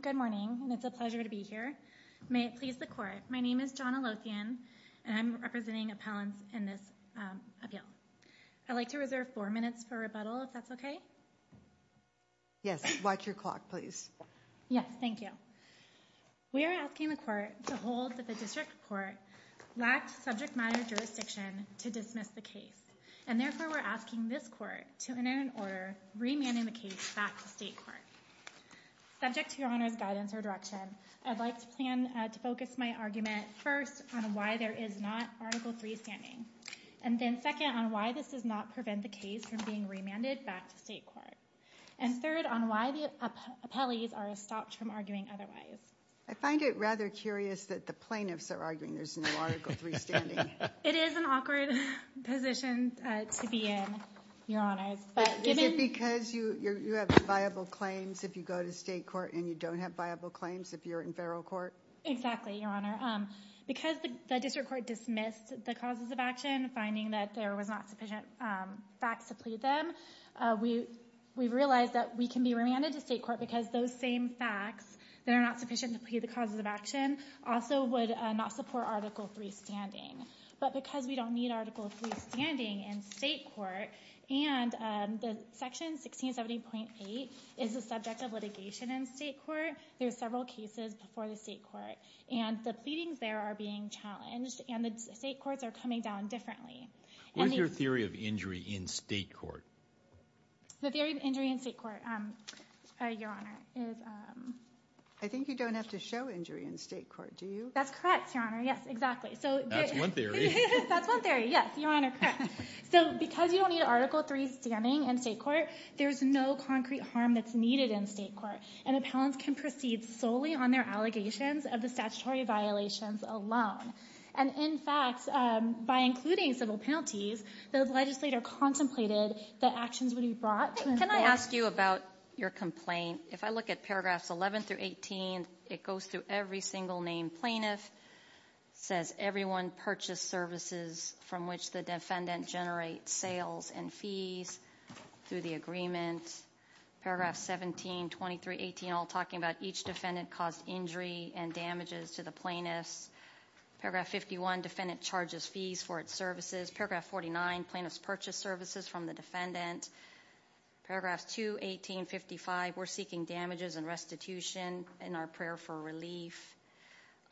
Good morning. It's a pleasure to be here. May it please the court, my name is John Alothian and I'm representing appellants in this appeal. I'd like to reserve four minutes for rebuttal if that's okay. Yes, watch your clock please. Yes, thank you. We are asking the court to hold that the district court lacked subject matter jurisdiction to dismiss the case and therefore we're asking this court to enter an order remanding the case back to state court. Subject to your Honor's guidance or direction, I'd like to plan to focus my argument first on why there is not Article 3 standing and then second on why this does not prevent the case from being remanded back to state court and third on why the appellees are stopped from arguing otherwise. I find it rather curious that the plaintiffs are arguing there's no Article 3 standing. It is an awkward position to be in, Your Honor. Is it because you have viable claims if you go to state court and you don't have viable claims if you're in federal court? Exactly, Your Honor. Because the district court dismissed the causes of action, finding that there was not sufficient facts to plead them, we realized that we can be remanded to state court because those same facts that are not sufficient to plead the causes of action also would not support Article 3 standing. But because we don't need Article 3 standing in state court and Section 1670.8 is the subject of litigation in state court, there are several cases before the state court and the pleadings there are being challenged and the state courts are coming down differently. What is your theory of injury in state court? The theory of injury in state court, Your Honor. I think you don't have to show injury in state court, do you? That's correct, Your Honor. Yes, exactly. So because you don't need Article 3 standing in state court, there's no concrete harm that's needed in state court. And appellants can proceed solely on their allegations of the statutory violations alone. And in fact, by including civil penalties, the legislator contemplated that actions would be brought to the state court. Can I ask you about your complaint? If I look at paragraphs 11 through 18, it goes through every single name plaintiff, says everyone purchased services from which the defendant generates sales and fees through the agreement. Paragraph 17, 23, 18, all talking about each defendant caused injury and damages to the plaintiffs. Paragraph 51, defendant charges fees for its services. Paragraph 49, plaintiffs purchased services from the defendant. Paragraphs 2, 18, 55, we're seeking damages and restitution in our prayer for relief.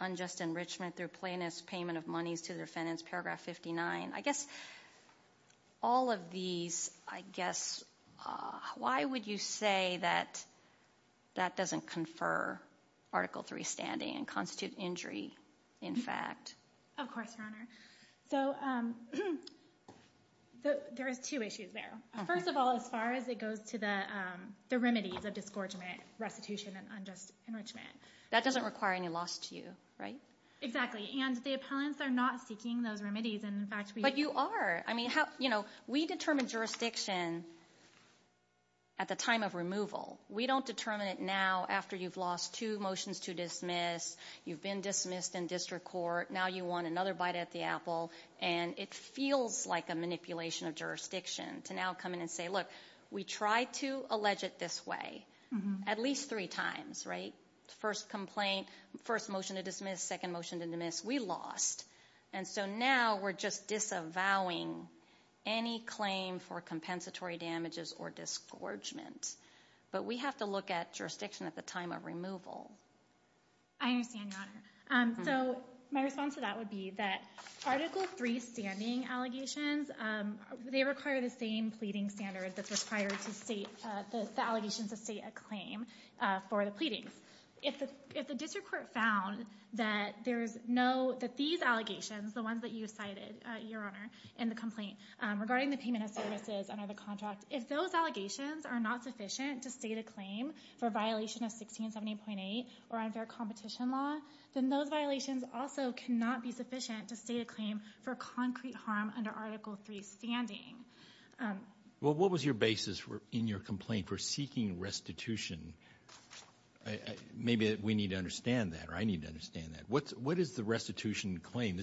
Unjust enrichment through plaintiffs payment of monies to the defendants. Paragraph 59. I guess all of these, I guess, why would you say that that doesn't confer Article 3 standing and constitute injury in fact? Of course, Your Honor. So there is two issues there. First of all, as far as it goes to the remedies of disgorgement, restitution and unjust enrichment. That doesn't require any loss to you, right? Exactly. And the appellants are not seeking those remedies. And in fact, But you are. I mean, how, you know, we determine jurisdiction at the time of removal. We don't determine it now after you've lost two motions to dismiss, you've been dismissed in district court, now you want another bite at the apple, and it feels like a manipulation of jurisdiction to now come in and say, look, we tried to allege it this way at least three times, right? First complaint, first motion to dismiss, second motion to dismiss, we lost. And so now we're just disavowing any claim for compensatory damages or disgorgement. But we have to look at jurisdiction at the time of removal. I understand, Your Honor. So my response to that would be that Article III standing allegations, they require the same pleading standard that's required to state the allegations to state a claim for the pleadings. If the district court found that there's no, that these allegations, the ones that you cited, Your Honor, in the complaint regarding the payment of services under the unfair competition law, then those violations also cannot be sufficient to state a claim for concrete harm under Article III standing. Well, what was your basis in your complaint for seeking restitution? Maybe we need to understand that, or I need to understand that. What is the restitution claim?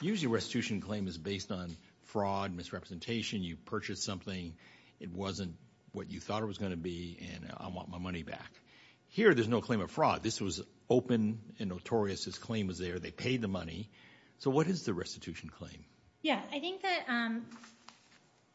Usually restitution claim is based on fraud, misrepresentation, you purchased something, it wasn't what you thought it was going to be, and I want my money back. Here there's no claim of fraud. This was open and notorious. This claim was there. They paid the money. So what is the restitution claim? Yeah, I think that,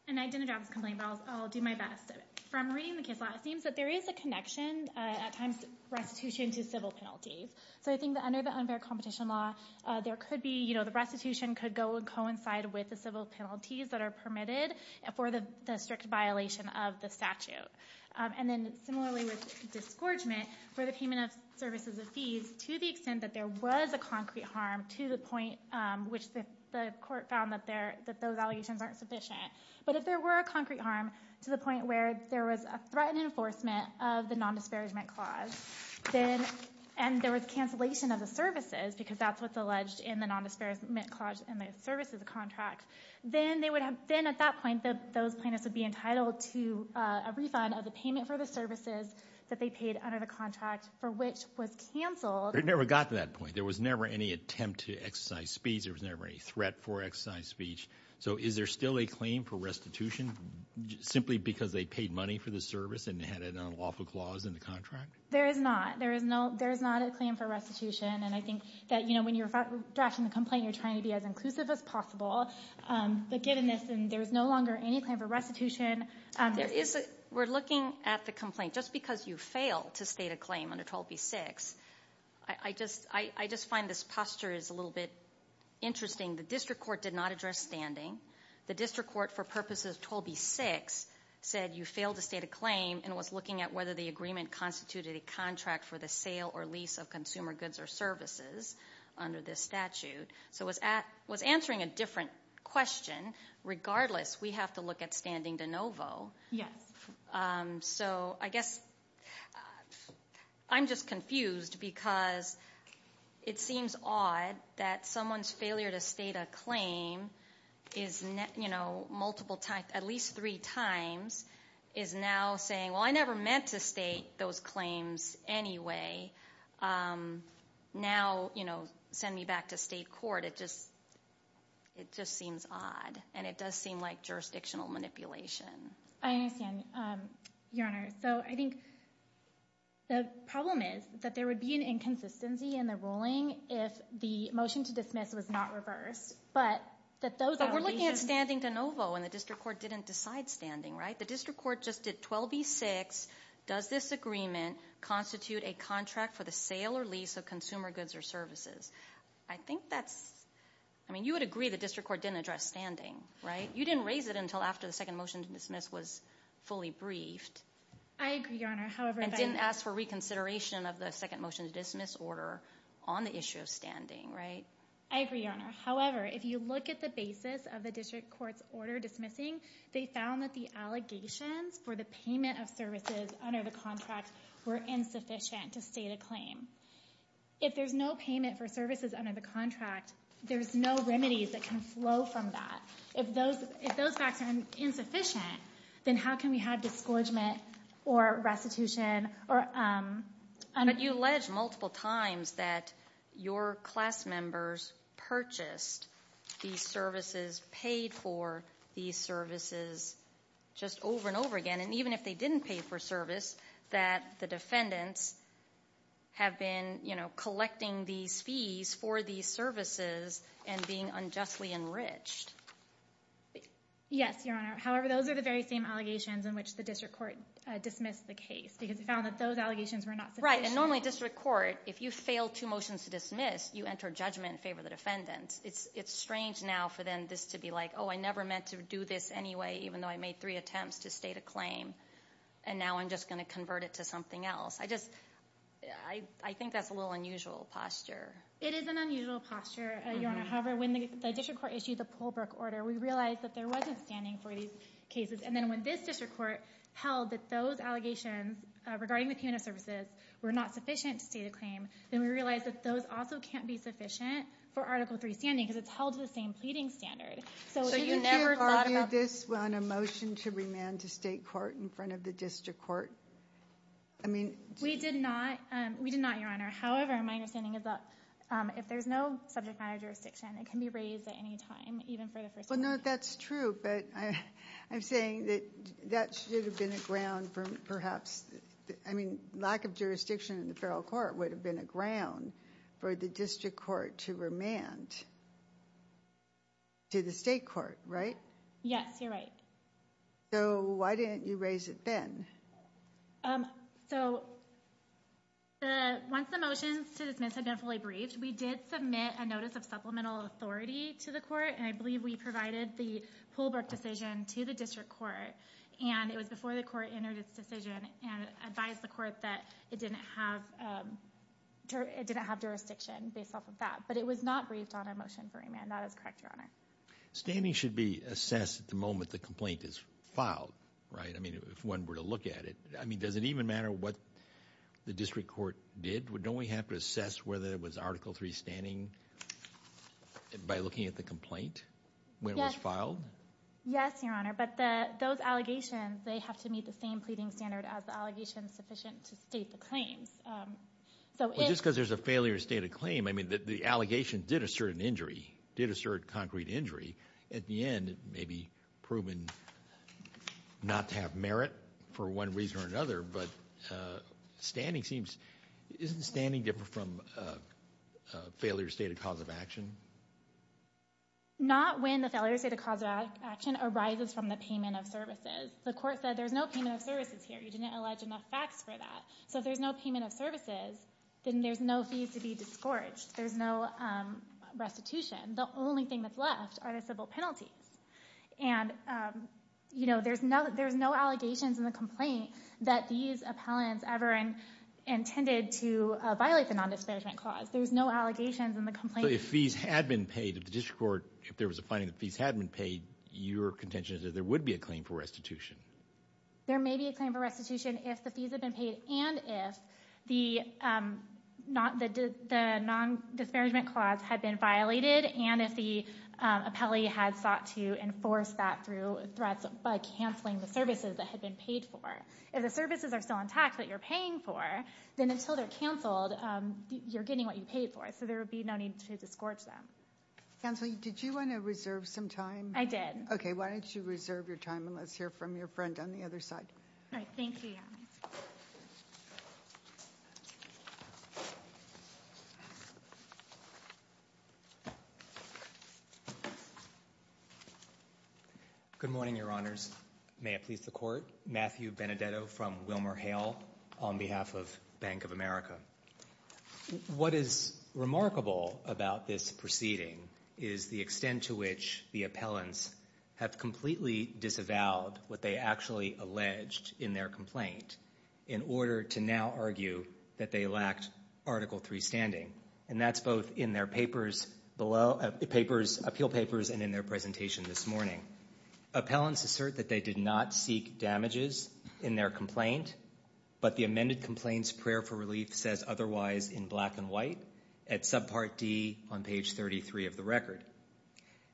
and I didn't drop this complaint, but I'll do my best. From reading the case law, it seems that there is a connection at times restitution to civil penalties. So I think that under the unfair competition law, there could be, you know, the restitution could go and coincide with the civil penalties that are permitted for the district violation of the statute. And then similarly with disgorgement, where the payment of services of fees, to the extent that there was a concrete harm to the point which the court found that those allegations aren't sufficient, but if there were a concrete harm to the point where there was a threatened enforcement of the nondisparagement clause, and there was cancellation of the services, because that's what's alleged in the nondisparagement clause in the services contract, then they would have, then at that point, those plaintiffs would be entitled to a refund of the payment for the services that they paid under the contract for which was canceled. It never got to that point. There was never any attempt to exercise speech. There was never any threat for exercise speech. So is there still a claim for restitution simply because they paid money for the service and had an unlawful clause in the contract? There is not. There is no, there is not a claim for restitution. And I think that, you know, when you're drafting the complaint, you're trying to be as inclusive as possible. But given this, and there's no longer any claim for restitution. We're looking at the complaint. Just because you fail to state a claim under 12b-6, I just find this posture is a little bit interesting. The district court did not address standing. The district court, for purposes of 12b-6, said you failed to state a claim and was looking at whether the agreement constituted a contract for the sale or lease of consumer goods or services under this statute. So it was answering a different question. Regardless, we have to look at standing de novo. Yes. So I guess, I'm just confused because it seems odd that someone's failure to state a claim is, you know, multiple times, at least three times, is now saying, well, I never meant to state those claims anyway. Now, you know, send me back to state court. It just, it just seems odd. And it does seem like jurisdictional manipulation. I understand, Your Honor. So I think the problem is that there would be an inconsistency in the ruling if the motion to dismiss was not reversed. But that those are standing de novo and the district court didn't decide standing, right? The district court just did 12b-6. Does this agreement constitute a contract for the sale or lease of consumer goods or services? I think that's, I mean, you would agree the district court didn't address standing, right? You didn't raise it until after the second motion to dismiss was fully briefed. I agree, Your Honor. However, I didn't ask for reconsideration of the second motion to dismiss order on the issue of standing, right? I agree, Your Honor. However, if you look at the basis of the district court's order dismissing, they found that the allegations for the payment of services under the contract were insufficient to state a claim. If there's no payment for services under the contract, there's no remedies that can flow from that. If those, if those facts are insufficient, then how can we have discouragement or restitution or But you alleged multiple times that your class members purchased these services, paid for these services just over and over again. And even if they didn't pay for service, that the defendants have been, you know, collecting these fees for these services and being unjustly enriched. Yes, Your Honor. However, those are the very same allegations in which the district court dismissed the case because they found that those allegations were not sufficient. Right. And normally district court, if you fail two motions to dismiss, you enter judgment in favor of the defendants. It's strange now for them this to be like, oh, I never meant to do this anyway, even though I made three attempts to state a claim. And now I'm just going to convert it to something else. I just, I think that's a little unusual posture. It is an unusual posture, Your Honor. However, when the district court issued the Pohlbrook order, we realized that there wasn't standing for these cases. And then when this district court held that those allegations regarding the payment of services were not sufficient to state a claim, then we realized that those also can't be sufficient for Article 3 standing because it's held to the same pleading standard. So you never thought of this on a motion to remand to state court in front of the district court? I mean, we did not. We did not, Your Honor. However, my understanding is that if there's no subject matter jurisdiction, it can be raised at any time, even for the first. No, that's true. But I'm saying that that should have been a ground for perhaps, I mean, lack of jurisdiction in the federal court would have been a ground for the district court to remand to the state court, right? Yes, you're right. So why didn't you raise it then? So once the motions to dismiss had been fully briefed, we did submit a notice of supplemental authority to the court, and I believe we provided the Pohlberg decision to the district court, and it was before the court entered its decision and advised the court that it didn't have jurisdiction based off of that. But it was not briefed on a motion for remand. That is correct, Your Honor. Standing should be assessed at the moment the complaint is filed, right? I mean, if one were to look at it, I mean, does it even matter what the district court did? Don't we have to assess whether it was Article 3 standing? By looking at the complaint when it was filed? Yes, Your Honor. But those allegations, they have to meet the same pleading standard as the allegations sufficient to state the claims. Well, just because there's a failure to state a claim, I mean, the allegations did assert an injury, did assert concrete injury. At the end, it may be proven not to have merit for one reason or another, but standing seems, isn't standing different from a failure to state a cause of action? Not when the failure to state a cause of action arises from the payment of services. The court said there's no payment of services here. You didn't allege enough facts for that. So if there's no payment of services, then there's no fees to be disgorged. There's no restitution. The only thing that's left are the civil penalties. And, you know, there's no allegations in the complaint that these appellants ever intended to violate the nondisparagement clause. There's no allegations in the complaint. If fees had been paid, if the district court, if there was a finding that fees had been paid, your contention is that there would be a claim for restitution. There may be a claim for restitution if the fees have been paid and if the non-disparagement clause had been violated and if the appellee had sought to enforce that through threats by canceling the services that had been paid for. If the services are still intact that you're paying for, then until they're canceled, you're getting what you paid for. So there would be no need to disgorge them. Counsel, did you want to reserve some time? I did. Okay. Why don't you reserve your time and let's hear from your friend on the other side. All right. Thank you. Good morning, your honors. May it please the court. Matthew Benedetto from Wilmer Hale on behalf of Bank of America. What is remarkable about this proceeding is the extent to which the appellants have completely disavowed what they actually alleged in their complaint in order to now argue that they lacked Article III standing. And that's both in their papers, appeal papers and in their presentation this morning. Appellants assert that they did not seek damages in their complaint, but the amended complaint's prayer for relief says otherwise in black and white at subpart D on page 33 of the record.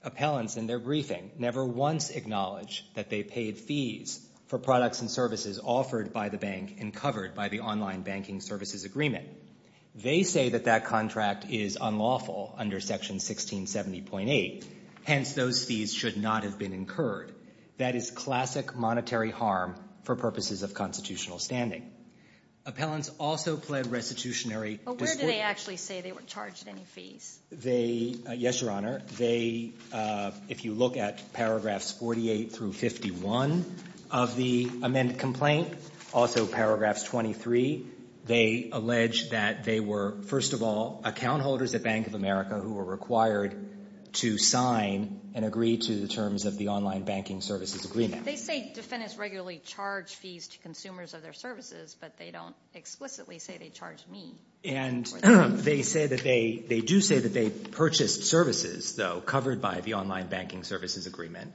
Appellants in their briefing never once acknowledged that they paid fees for products and services offered by the bank and covered by the online banking services agreement. They say that that contract is unlawful under section 1670.8, hence those fees should not have been incurred. That is classic monetary harm for purposes of constitutional standing. Appellants also pled restitutionary discretion. But where did they actually say they weren't charged any fees? They yes, your honor. They if you look at paragraphs 48 through 51 of the amended complaint, also paragraphs 23, they allege that they were first of all account holders at Bank of America who were required to sign and agree to the terms of the online banking services agreement. They say defendants regularly charge fees to consumers of their services, but they don't explicitly say they charged me. And they say that they they do say that they purchased services, though, covered by the online banking services agreement.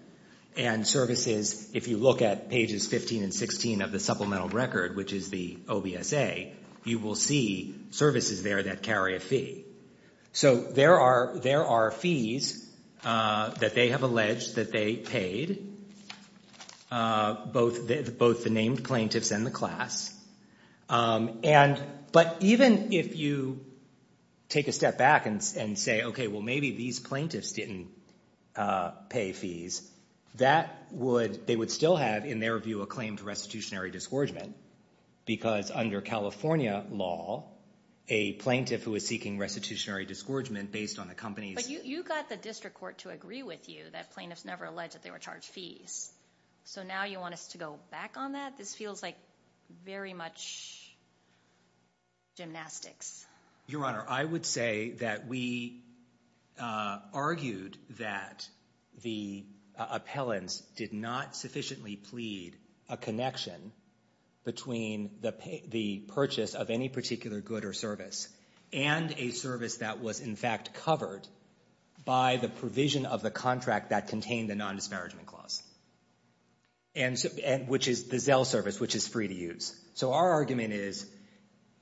And services, if you look at pages 15 and 16 of the supplemental record, which is the OBSA, you will see services there that carry a fee. So there are there are fees that they have alleged that they paid, both the named plaintiffs and the class. And but even if you take a step back and say, OK, well, maybe these plaintiffs didn't pay fees, that would they would still have, in their view, a claim for restitutionary disgorgement? Because under California law, a plaintiff who is seeking restitutionary disgorgement based on the company's. You got the district court to agree with you that plaintiffs never alleged that they were charged fees. So now you want us to go back on that? This feels like very much gymnastics. Your honor, I would say that we argued that the appellants did not sufficiently plead a connection between the the purchase of any particular good or service and a service that was, in fact, covered by the provision of the contract that contained the non-disparagement clause. And which is the Zell service, which is free to use. So our argument is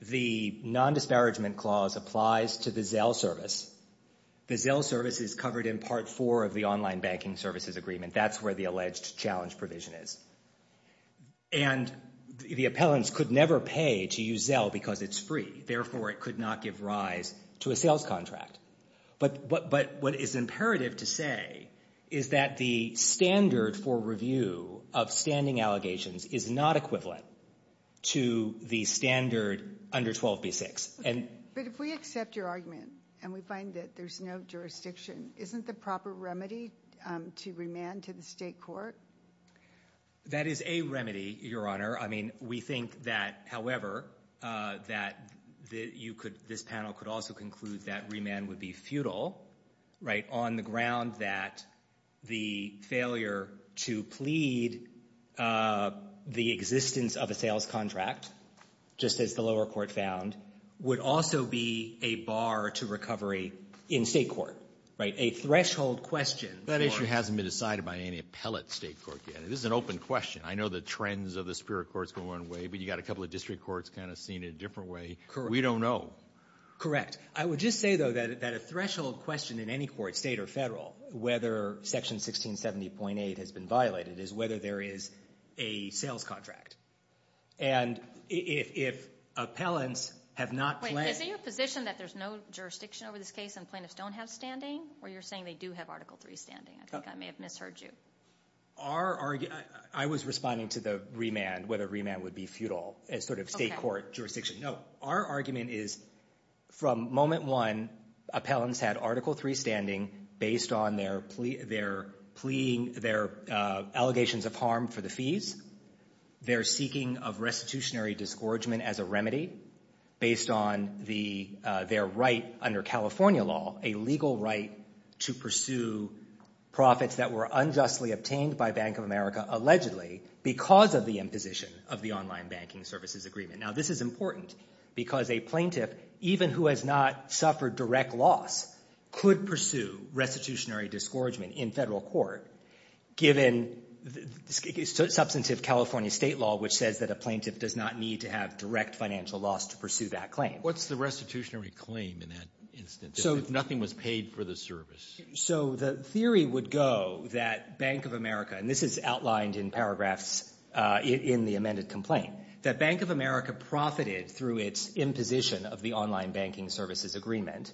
the non-disparagement clause applies to the Zell service. The Zell service is covered in part four of the online banking services agreement. That's where the alleged challenge provision is. And the appellants could never pay to use Zell because it's free. Therefore, it could not give rise to a sales contract. But what is imperative to say is that the standard for review of standing allegations is not equivalent to the standard under 12b-6. But if we accept your argument and we find that there's no jurisdiction, isn't the proper remedy to remand to the state court? That is a remedy, your honor. I mean, we think that, however, that this panel could also conclude that remand would be futile on the ground that the failure to plead the existence of a sales contract, just as the lower court found, would also be a bar to recovery in the state court, right? A threshold question. That issue hasn't been decided by any appellate state court yet. This is an open question. I know the trends of the superior courts go one way, but you've got a couple of district courts kind of seen in a different way. We don't know. Correct. I would just say, though, that a threshold question in any court, state or federal, whether section 1670.8 has been violated is whether there is a sales contract. And if appellants have not pledged... Is it your position that there's no jurisdiction over this case and plaintiffs don't have standing? Or you're saying they do have Article III standing? I think I may have misheard you. I was responding to the remand, whether remand would be futile as sort of state court jurisdiction. No. Our argument is from moment one, appellants had Article III standing based on their allegations of harm for the fees, their seeking of restitutionary disgorgement as a remedy based on the their right under California law, a legal right to pursue profits that were unjustly obtained by Bank of America allegedly because of the imposition of the online banking services agreement. Now, this is important because a plaintiff, even who has not suffered direct loss, could pursue restitutionary disgorgement in federal court, given substantive California state law, which says that a plaintiff does not need to have direct financial loss to pursue that claim. What's the restitutionary claim in that instance, if nothing was paid for the service? So the theory would go that Bank of America, and this is outlined in paragraphs in the amended complaint, that Bank of America profited through its imposition of the online banking services agreement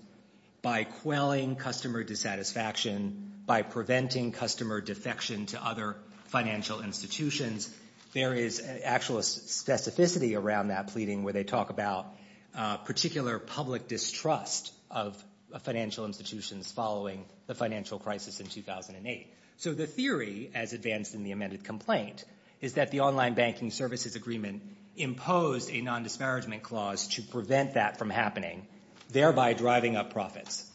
by quelling customer dissatisfaction, by preventing customer defection to other financial institutions. There is actual specificity around that pleading where they talk about particular public distrust of financial institutions following the financial crisis in 2008. So the theory, as advanced in the amended complaint, is that the online banking services agreement imposed a non-disparagement clause to prevent that from happening, thereby driving up profits.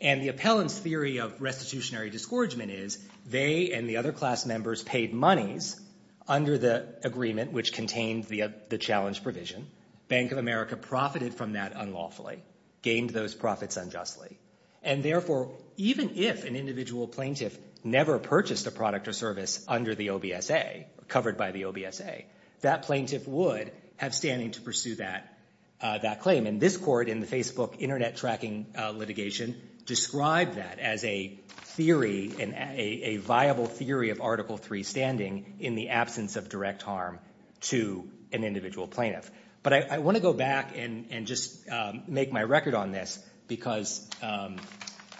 And the appellant's theory of restitutionary disgorgement is they and the other class members paid monies under the agreement which contained the challenge provision. Bank of America profited from that unlawfully, gained those profits unjustly. And therefore, even if an individual plaintiff never purchased a product or service under the OBSA, covered by the OBSA, that plaintiff would have standing to pursue that claim. And this court in the Facebook internet tracking litigation described that as a theory, a viable theory of Article III standing in the absence of direct harm to an individual plaintiff. But I want to go back and just make my record on this because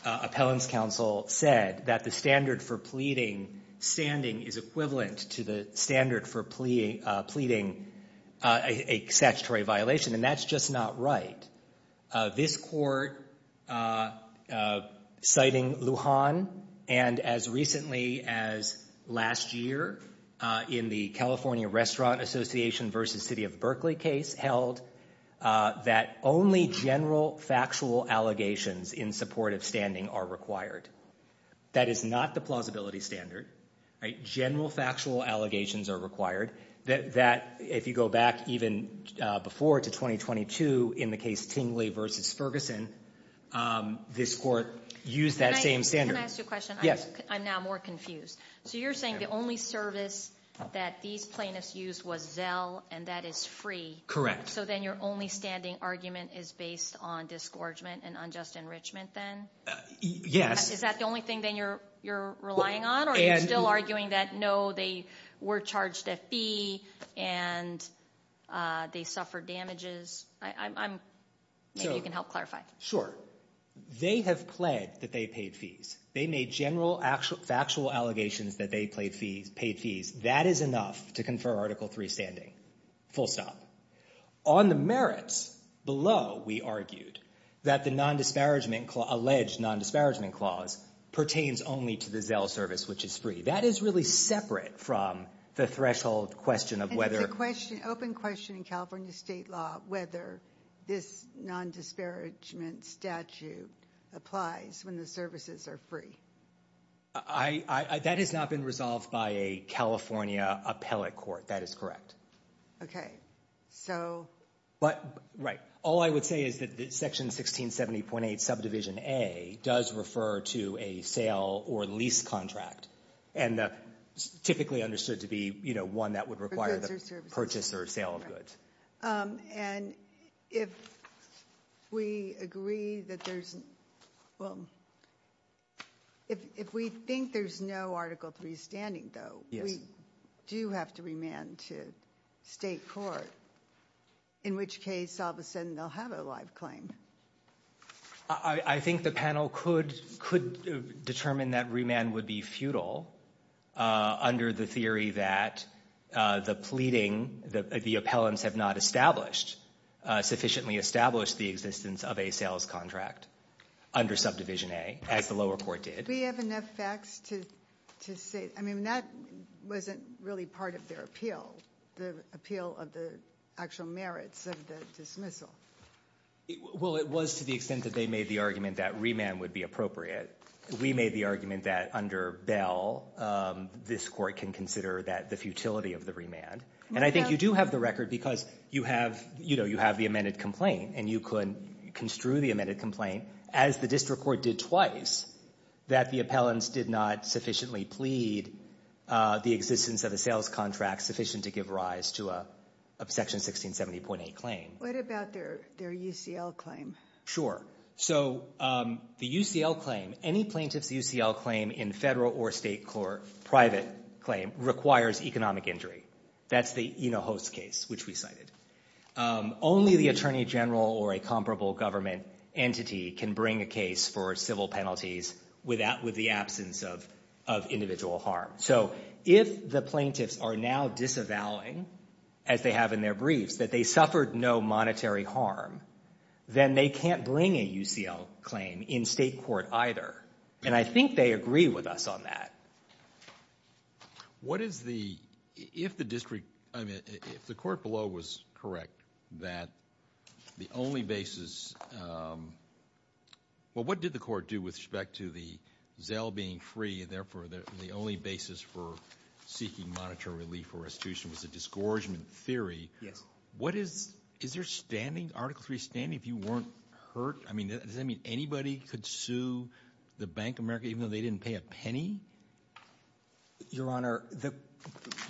appellant's counsel said that the standard for pleading standing is equivalent to the standard for pleading a statutory violation. And that's just not right. This court, citing Lujan, and as recently as last year, in the California Restaurant Association versus City of Berkeley case, held that only general factual allegations in support of standing are required. That is not the plausibility standard, right? General factual allegations are required that if you go back even before to 2022 in the case Tingley versus Ferguson, this court used that same standard. Can I ask you a question? Yes. I'm now more confused. So you're saying the only service that these plaintiffs used was Zell and that is free? Correct. So then your only standing argument is based on disgorgement and unjust enrichment then? Yes. Is that the only thing then you're relying on or are you still arguing that no, they were charged a fee and they suffered damages? Maybe you can help clarify. Sure. They have pled that they paid fees. They made general factual allegations that they paid fees. That is enough to confer Article III standing. Full stop. On the merits below, we argued that the alleged non-disparagement clause pertains only to the Zell service, which is free. That is really separate from the threshold question of whether... And it's an open question in California state law whether this non-disparagement statute applies when the services are free. That has not been resolved by a California appellate court. That is correct. Okay. All I would say is that Section 1670.8 Subdivision A does refer to a sale or lease contract and typically understood to be one that would require the purchase or sale of goods. And if we agree that there's... Well, if we think there's no Article III standing though, we do have to remand to state court, in which case all of a sudden they'll have a live claim. I think the panel could determine that remand would be futile under the theory that the pleading, the appellants have not established, sufficiently established the existence of a sales contract under Subdivision A, as the lower court did. We have enough facts to say... I mean, that wasn't really part of their appeal, the appeal of the actual merits of the dismissal. Well, it was to the extent that they made the argument that remand would be appropriate. We made the argument that under Bell, this court can consider that the futility of the remand. And I think you do have the record because you have the amended complaint and you could construe the amended complaint, as the district court did twice, that the appellants did not sufficiently plead the existence of a sales contract sufficient to give rise to a Section 1670.8 claim. What about their UCL claim? Sure. So, the UCL claim, any plaintiff's UCL claim in federal or state court, private claim, requires economic injury. That's the Eno-Host case, which we cited. Only the attorney general or a comparable government entity can bring a case for civil penalties with the absence of individual harm. So, if the plaintiffs are now disavowing, as they have in their briefs, that they suffered no monetary harm, then they can't bring a UCL claim in state court either. And I think they agree with us on that. What is the, if the district, I mean, if the court below was correct, that the only basis, well, what did the court do with respect to the Zell being free and therefore the only basis for seeking monetary relief for restitution was a disgorgement theory? Yes. What is, is there standing, Article III standing, if you weren't hurt? I mean, does that mean anybody could sue the Bank of America even though they didn't pay a penny? Your Honor, the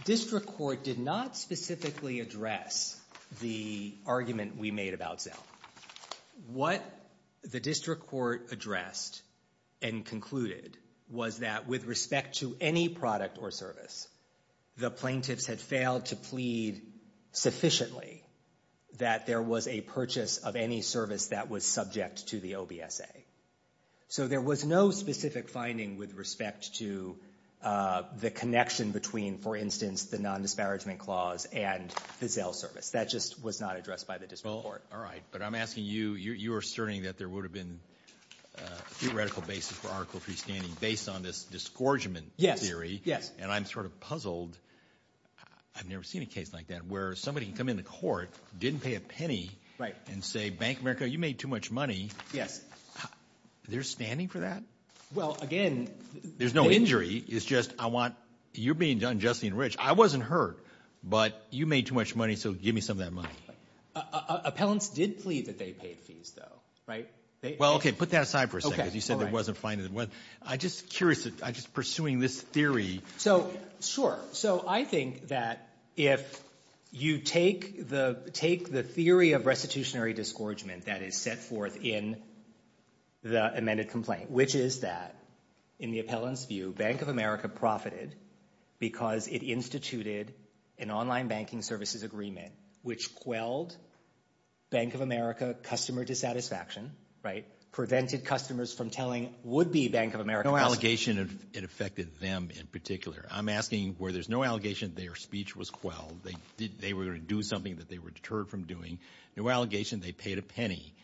district court did not specifically address the argument we made about Zell. What the district court addressed and concluded was that with respect to any product or service, the plaintiffs had failed to plead sufficiently that there was a purchase of any service that was subject to the OBSA. So there was no specific finding with respect to the connection between, for instance, the non-disparagement clause and the Zell service. That just was not addressed by the district court. All right. But I'm asking you, you're asserting that there would have been a theoretical basis for Article III standing based on this disgorgement theory. And I'm sort of puzzled. I've never seen a case like that where somebody can come in the court, didn't pay a penny. Right. And say, Bank of America, you made too much money. Yes. They're standing for that? Well, again— There's no injury. It's just, I want—you're being unjustly enriched. I wasn't hurt, but you made too much money, so give me some of that money. Appellants did plead that they paid fees, though, right? Well, OK, put that aside for a second. OK, all right. You said there wasn't a finding. I'm just curious. I'm just pursuing this theory. So, sure. So I think that if you take the theory of restitutionary disgorgement that is set forth in the amended complaint, which is that, in the appellant's view, Bank of America profited because it instituted an online banking services agreement which quelled Bank of America customer dissatisfaction, right? Prevented customers from telling would-be Bank of America— No allegation it affected them in particular. I'm asking where there's no allegation their speech was quelled. They were going to do something that they were deterred from doing. No allegation they paid a penny.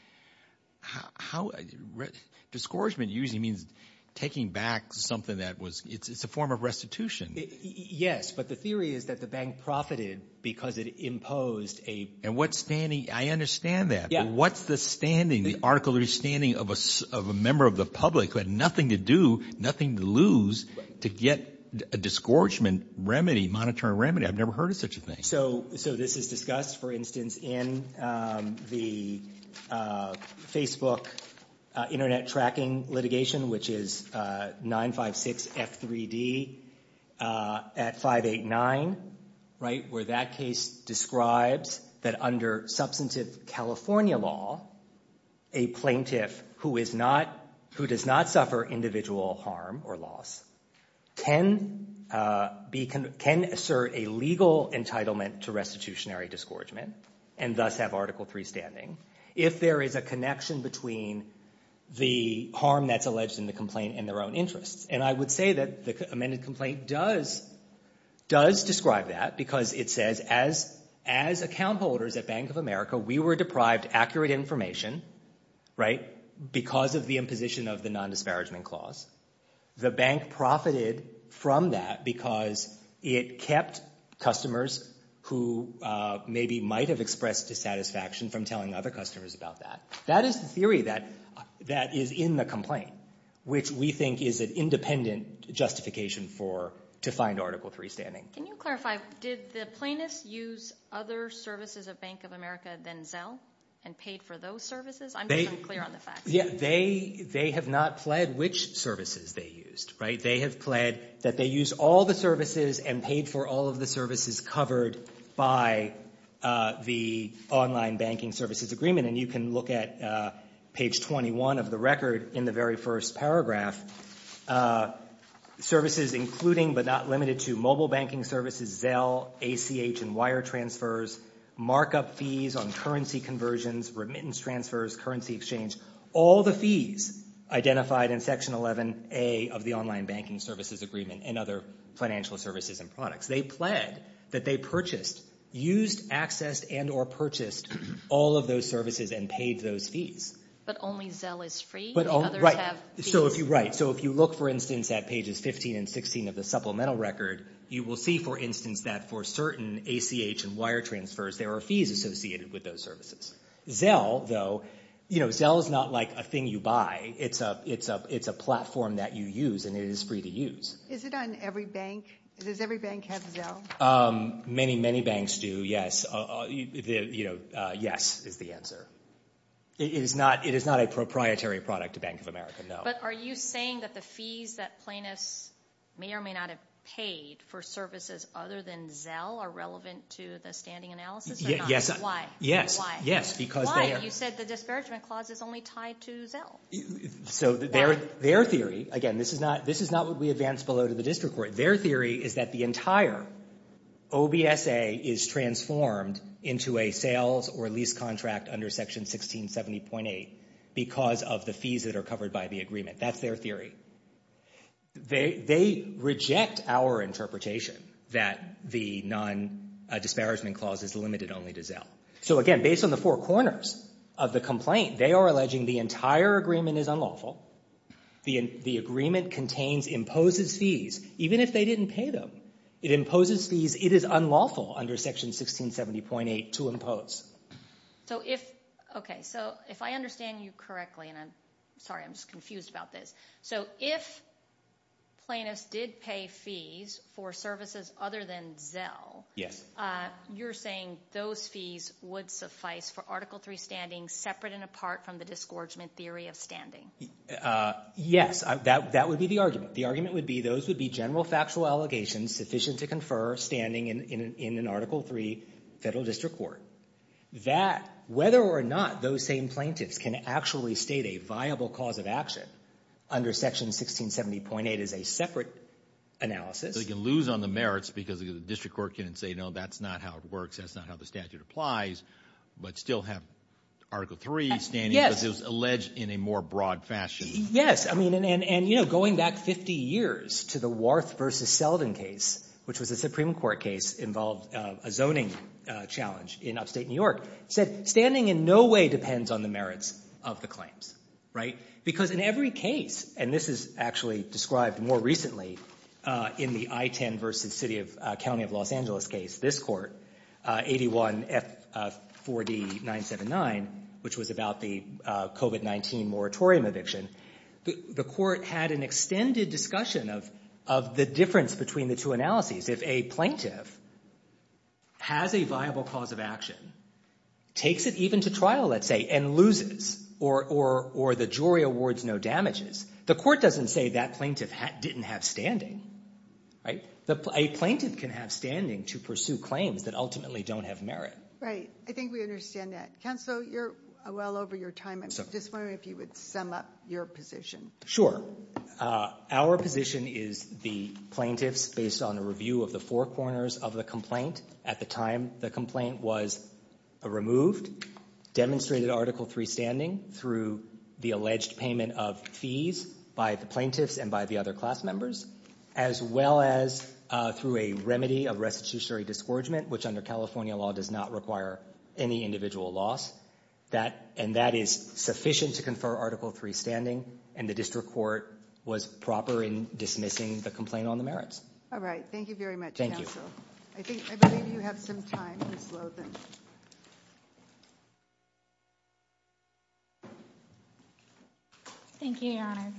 Discouragement usually means taking back something that was—it's a form of restitution. Yes, but the theory is that the bank profited because it imposed a— And what standing—I understand that, but what's the standing, the article of standing of a member of the public who had nothing to do, nothing to lose, to get a disgorgement remedy, monetary remedy? I've never heard of such a thing. So this is discussed, for instance, in the Facebook internet tracking litigation, which is 956 F3D at 589, right, where that case describes that under substantive California law, a plaintiff who does not suffer individual harm or loss can assert a legal entitlement to restitutionary disgorgement and thus have Article III standing if there is a connection between the harm that's alleged in the complaint and their own interests. And I would say that the amended complaint does describe that because it says, as account holders at Bank of America, we were deprived accurate information, right, because of the imposition of the non-disparagement clause. The bank profited from that because it kept customers who maybe might have expressed dissatisfaction from telling other customers about that. That is the theory that is in the complaint, which we think is an independent justification for—to find Article III standing. Can you clarify, did the plaintiffs use other services at Bank of America than Zelle and paid for those services? I'm just unclear on the facts. Yeah, they have not pled which services they used, right? They have pled that they use all the services and paid for all of the services covered by the online banking services agreement. And you can look at page 21 of the record in the very first paragraph, services including but not limited to mobile banking services, Zelle, ACH, and wire transfers, markup fees on currency conversions, remittance transfers, currency exchange, all the fees identified in Section 11A of the online banking services agreement and other financial services and products. They pled that they purchased, used, accessed, and or purchased all of those services and paid those fees. But only Zelle is free? Right. So if you look, for instance, at pages 15 and 16 of the supplemental record, you will see, for instance, that for certain ACH and wire transfers, there are fees associated with those services. Zelle, though, you know, Zelle is not like a thing you buy. It's a platform that you use and it is free to use. Is it on every bank? Does every bank have Zelle? Many, many banks do, yes. You know, yes, is the answer. It is not a proprietary product to Bank of America, no. But are you saying that the fees that plaintiffs may or may not have paid for services other than Zelle are relevant to the standing analysis? Yes. Why? Yes, yes, because they are. Why? You said the non-disparagement clause is only tied to Zelle. So their theory, again, this is not what we advance below to the district court. Their theory is that the entire OBSA is transformed into a sales or lease contract under Section 1670.8 because of the fees that are covered by the agreement. That's their theory. They reject our interpretation that the non-disparagement clause is limited only to Zelle. So again, based on the four corners of the complaint, they are alleging the entire agreement is unlawful. The agreement contains, imposes fees, even if they didn't pay them. It imposes fees. It is unlawful under Section 1670.8 to impose. So if, okay, so if I understand you correctly, and I'm sorry, I'm just confused about this. So if plaintiffs did pay fees for services other than Zelle, you're saying those fees would suffice for Article 3 standing separate and apart from the disgorgement theory of standing? Yes, that would be the argument. The argument would be those would be general factual allegations sufficient to confer standing in an Article 3 federal district court. That, whether or not those same plaintiffs can actually state a viable cause of action under Section 1670.8 is a separate analysis. They can lose on the merits because the district court can't say, no, that's not how it works. That's not how the statute applies, but still have Article 3 standing because it was alleged in a more broad fashion. Yes, I mean, and you know, going back 50 years to the Warth v. Selden case, which was a Supreme Court case involved a zoning challenge in upstate New York, said standing in no way depends on the merits of the claims, right? Because in every case, and this is actually described more recently in the I-10 v. City of, County of Los Angeles case, this court, 81 F4D 979, which was about the COVID-19 moratorium eviction, the court had an extended discussion of the difference between the two analyses. If a plaintiff has a viable cause of action, takes it even to trial, let's say, and loses or the jury awards no damages, the court doesn't say that plaintiff didn't have standing, right? A plaintiff can have standing to pursue claims that ultimately don't have merit. Right. I think we understand that. Counselor, you're well over your time. I was just wondering if you would sum up your position. Sure. Our position is the plaintiffs, based on a review of the four corners of the complaint at the time the complaint was removed, demonstrated Article III standing through the alleged payment of fees by the plaintiffs and by the other class members, as well as through a remedy of restitutionary disgorgement, which under California law does not require any individual loss. And that is sufficient to confer Article III standing, and the district court was proper in dismissing the complaint on the merits. All right. Thank you very much, Counsel. I believe you have some time, Ms. Lothen. Thank you, Your Honor.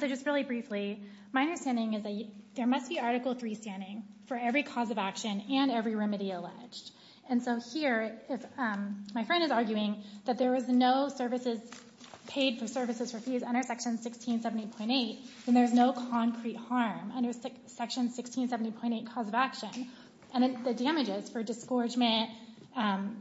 So just really briefly, my understanding is there must be Article III standing for every cause of action and every remedy alleged. And so here, my friend is arguing that there was no paid for services for fees under Section 1670.8, and there's no concrete harm under Section 1670.8 cause of action. And the damages for disgorgement,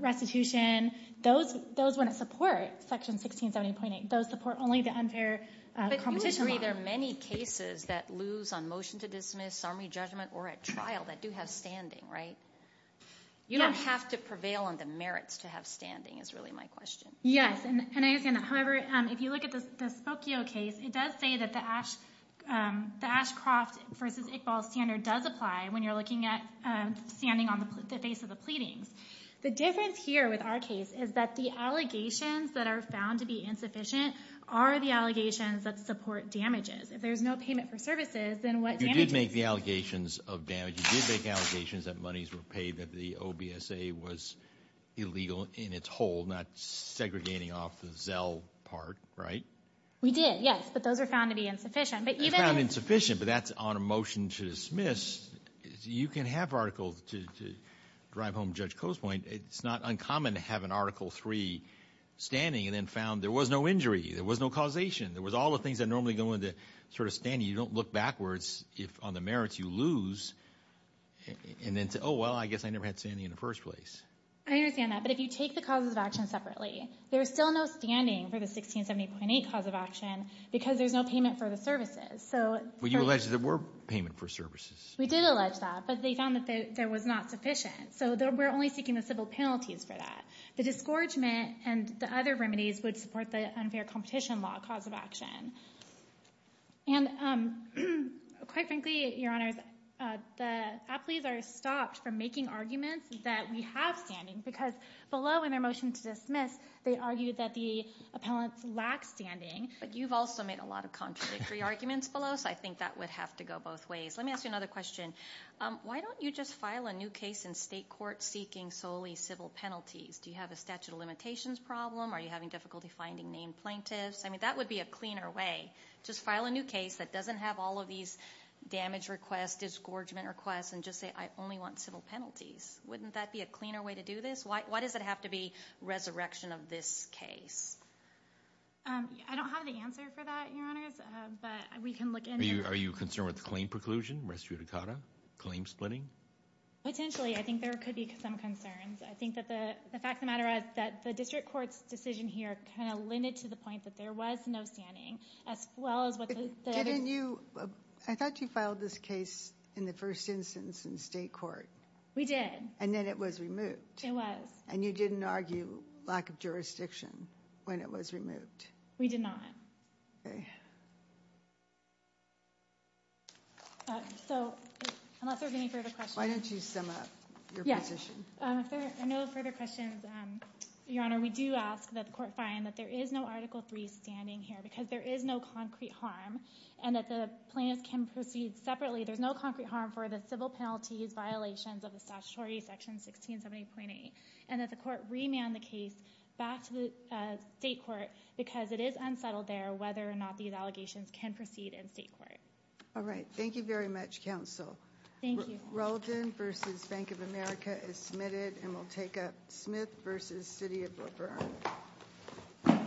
restitution, those wouldn't support Section 1670.8. Those support only the unfair competition law. But you agree there are many cases that lose on motion to dismiss, summary judgment, or at trial that do have standing, right? You don't have to prevail on the merits to have standing, is really my question. Yes, and I understand that. However, if you look at the Spokio case, it does say that the Ashcroft versus Iqbal standard does apply when you're looking at standing on the face of the pleadings. The difference here with our case is that the allegations that are found to be insufficient are the allegations that support damages. If there's no payment for services, then what damages? You did make the allegations of damage. You did not segregating off the Zell part, right? We did, yes, but those are found to be insufficient. They're found insufficient, but that's on a motion to dismiss. You can have articles to drive home Judge Coastpoint. It's not uncommon to have an Article III standing and then found there was no injury. There was no causation. There was all the things that normally go into sort of standing. You don't look backwards on the merits you lose and then say, oh, well, I guess I never had standing in the first place. I understand that, but if you take the causes of action separately, there's still no standing for the 1670.8 cause of action because there's no payment for the services. But you allege that there were payment for services. We did allege that, but they found that there was not sufficient, so we're only seeking the civil penalties for that. The discouragement and the other remedies would support the unfair competition law cause of action. And quite frankly, Your Honors, the appellees are stopped from making arguments that we have standing because below in their motion to dismiss, they argued that the appellants lack standing. But you've also made a lot of contradictory arguments below, so I think that would have to go both ways. Let me ask you another question. Why don't you just file a new case in state court seeking solely civil penalties? Do you have a statute of limitations problem? Are you having finding named plaintiffs? I mean, that would be a cleaner way. Just file a new case that doesn't have all of these damage requests, disgorgement requests, and just say, I only want civil penalties. Wouldn't that be a cleaner way to do this? Why does it have to be resurrection of this case? I don't have the answer for that, Your Honors, but we can look in. Are you concerned with the claim preclusion, res judicata, claim splitting? Potentially. I think there could be some concerns. I think that the fact of the matter is that the district court's decision here kind of limited to the point that there was no standing, as well as what the... Didn't you, I thought you filed this case in the first instance in state court. We did. And then it was removed. It was. And you didn't argue lack of jurisdiction when it was removed. We did not. Okay. So, unless there's any further questions. Why don't you sum up your position? No further questions, Your Honor. We do ask that the court find that there is no Article III standing here, because there is no concrete harm, and that the plaintiffs can proceed separately. There's no concrete harm for the civil penalties violations of the statutory section 1670.8, and that the court remand the case back to the state court, because it is unsettled there, whether or not these allegations can proceed in state court. All right. Thank you very much, counsel. Thank you. Rollton versus Bank of America is submitted, and we'll take up Smith versus City of Brookburn.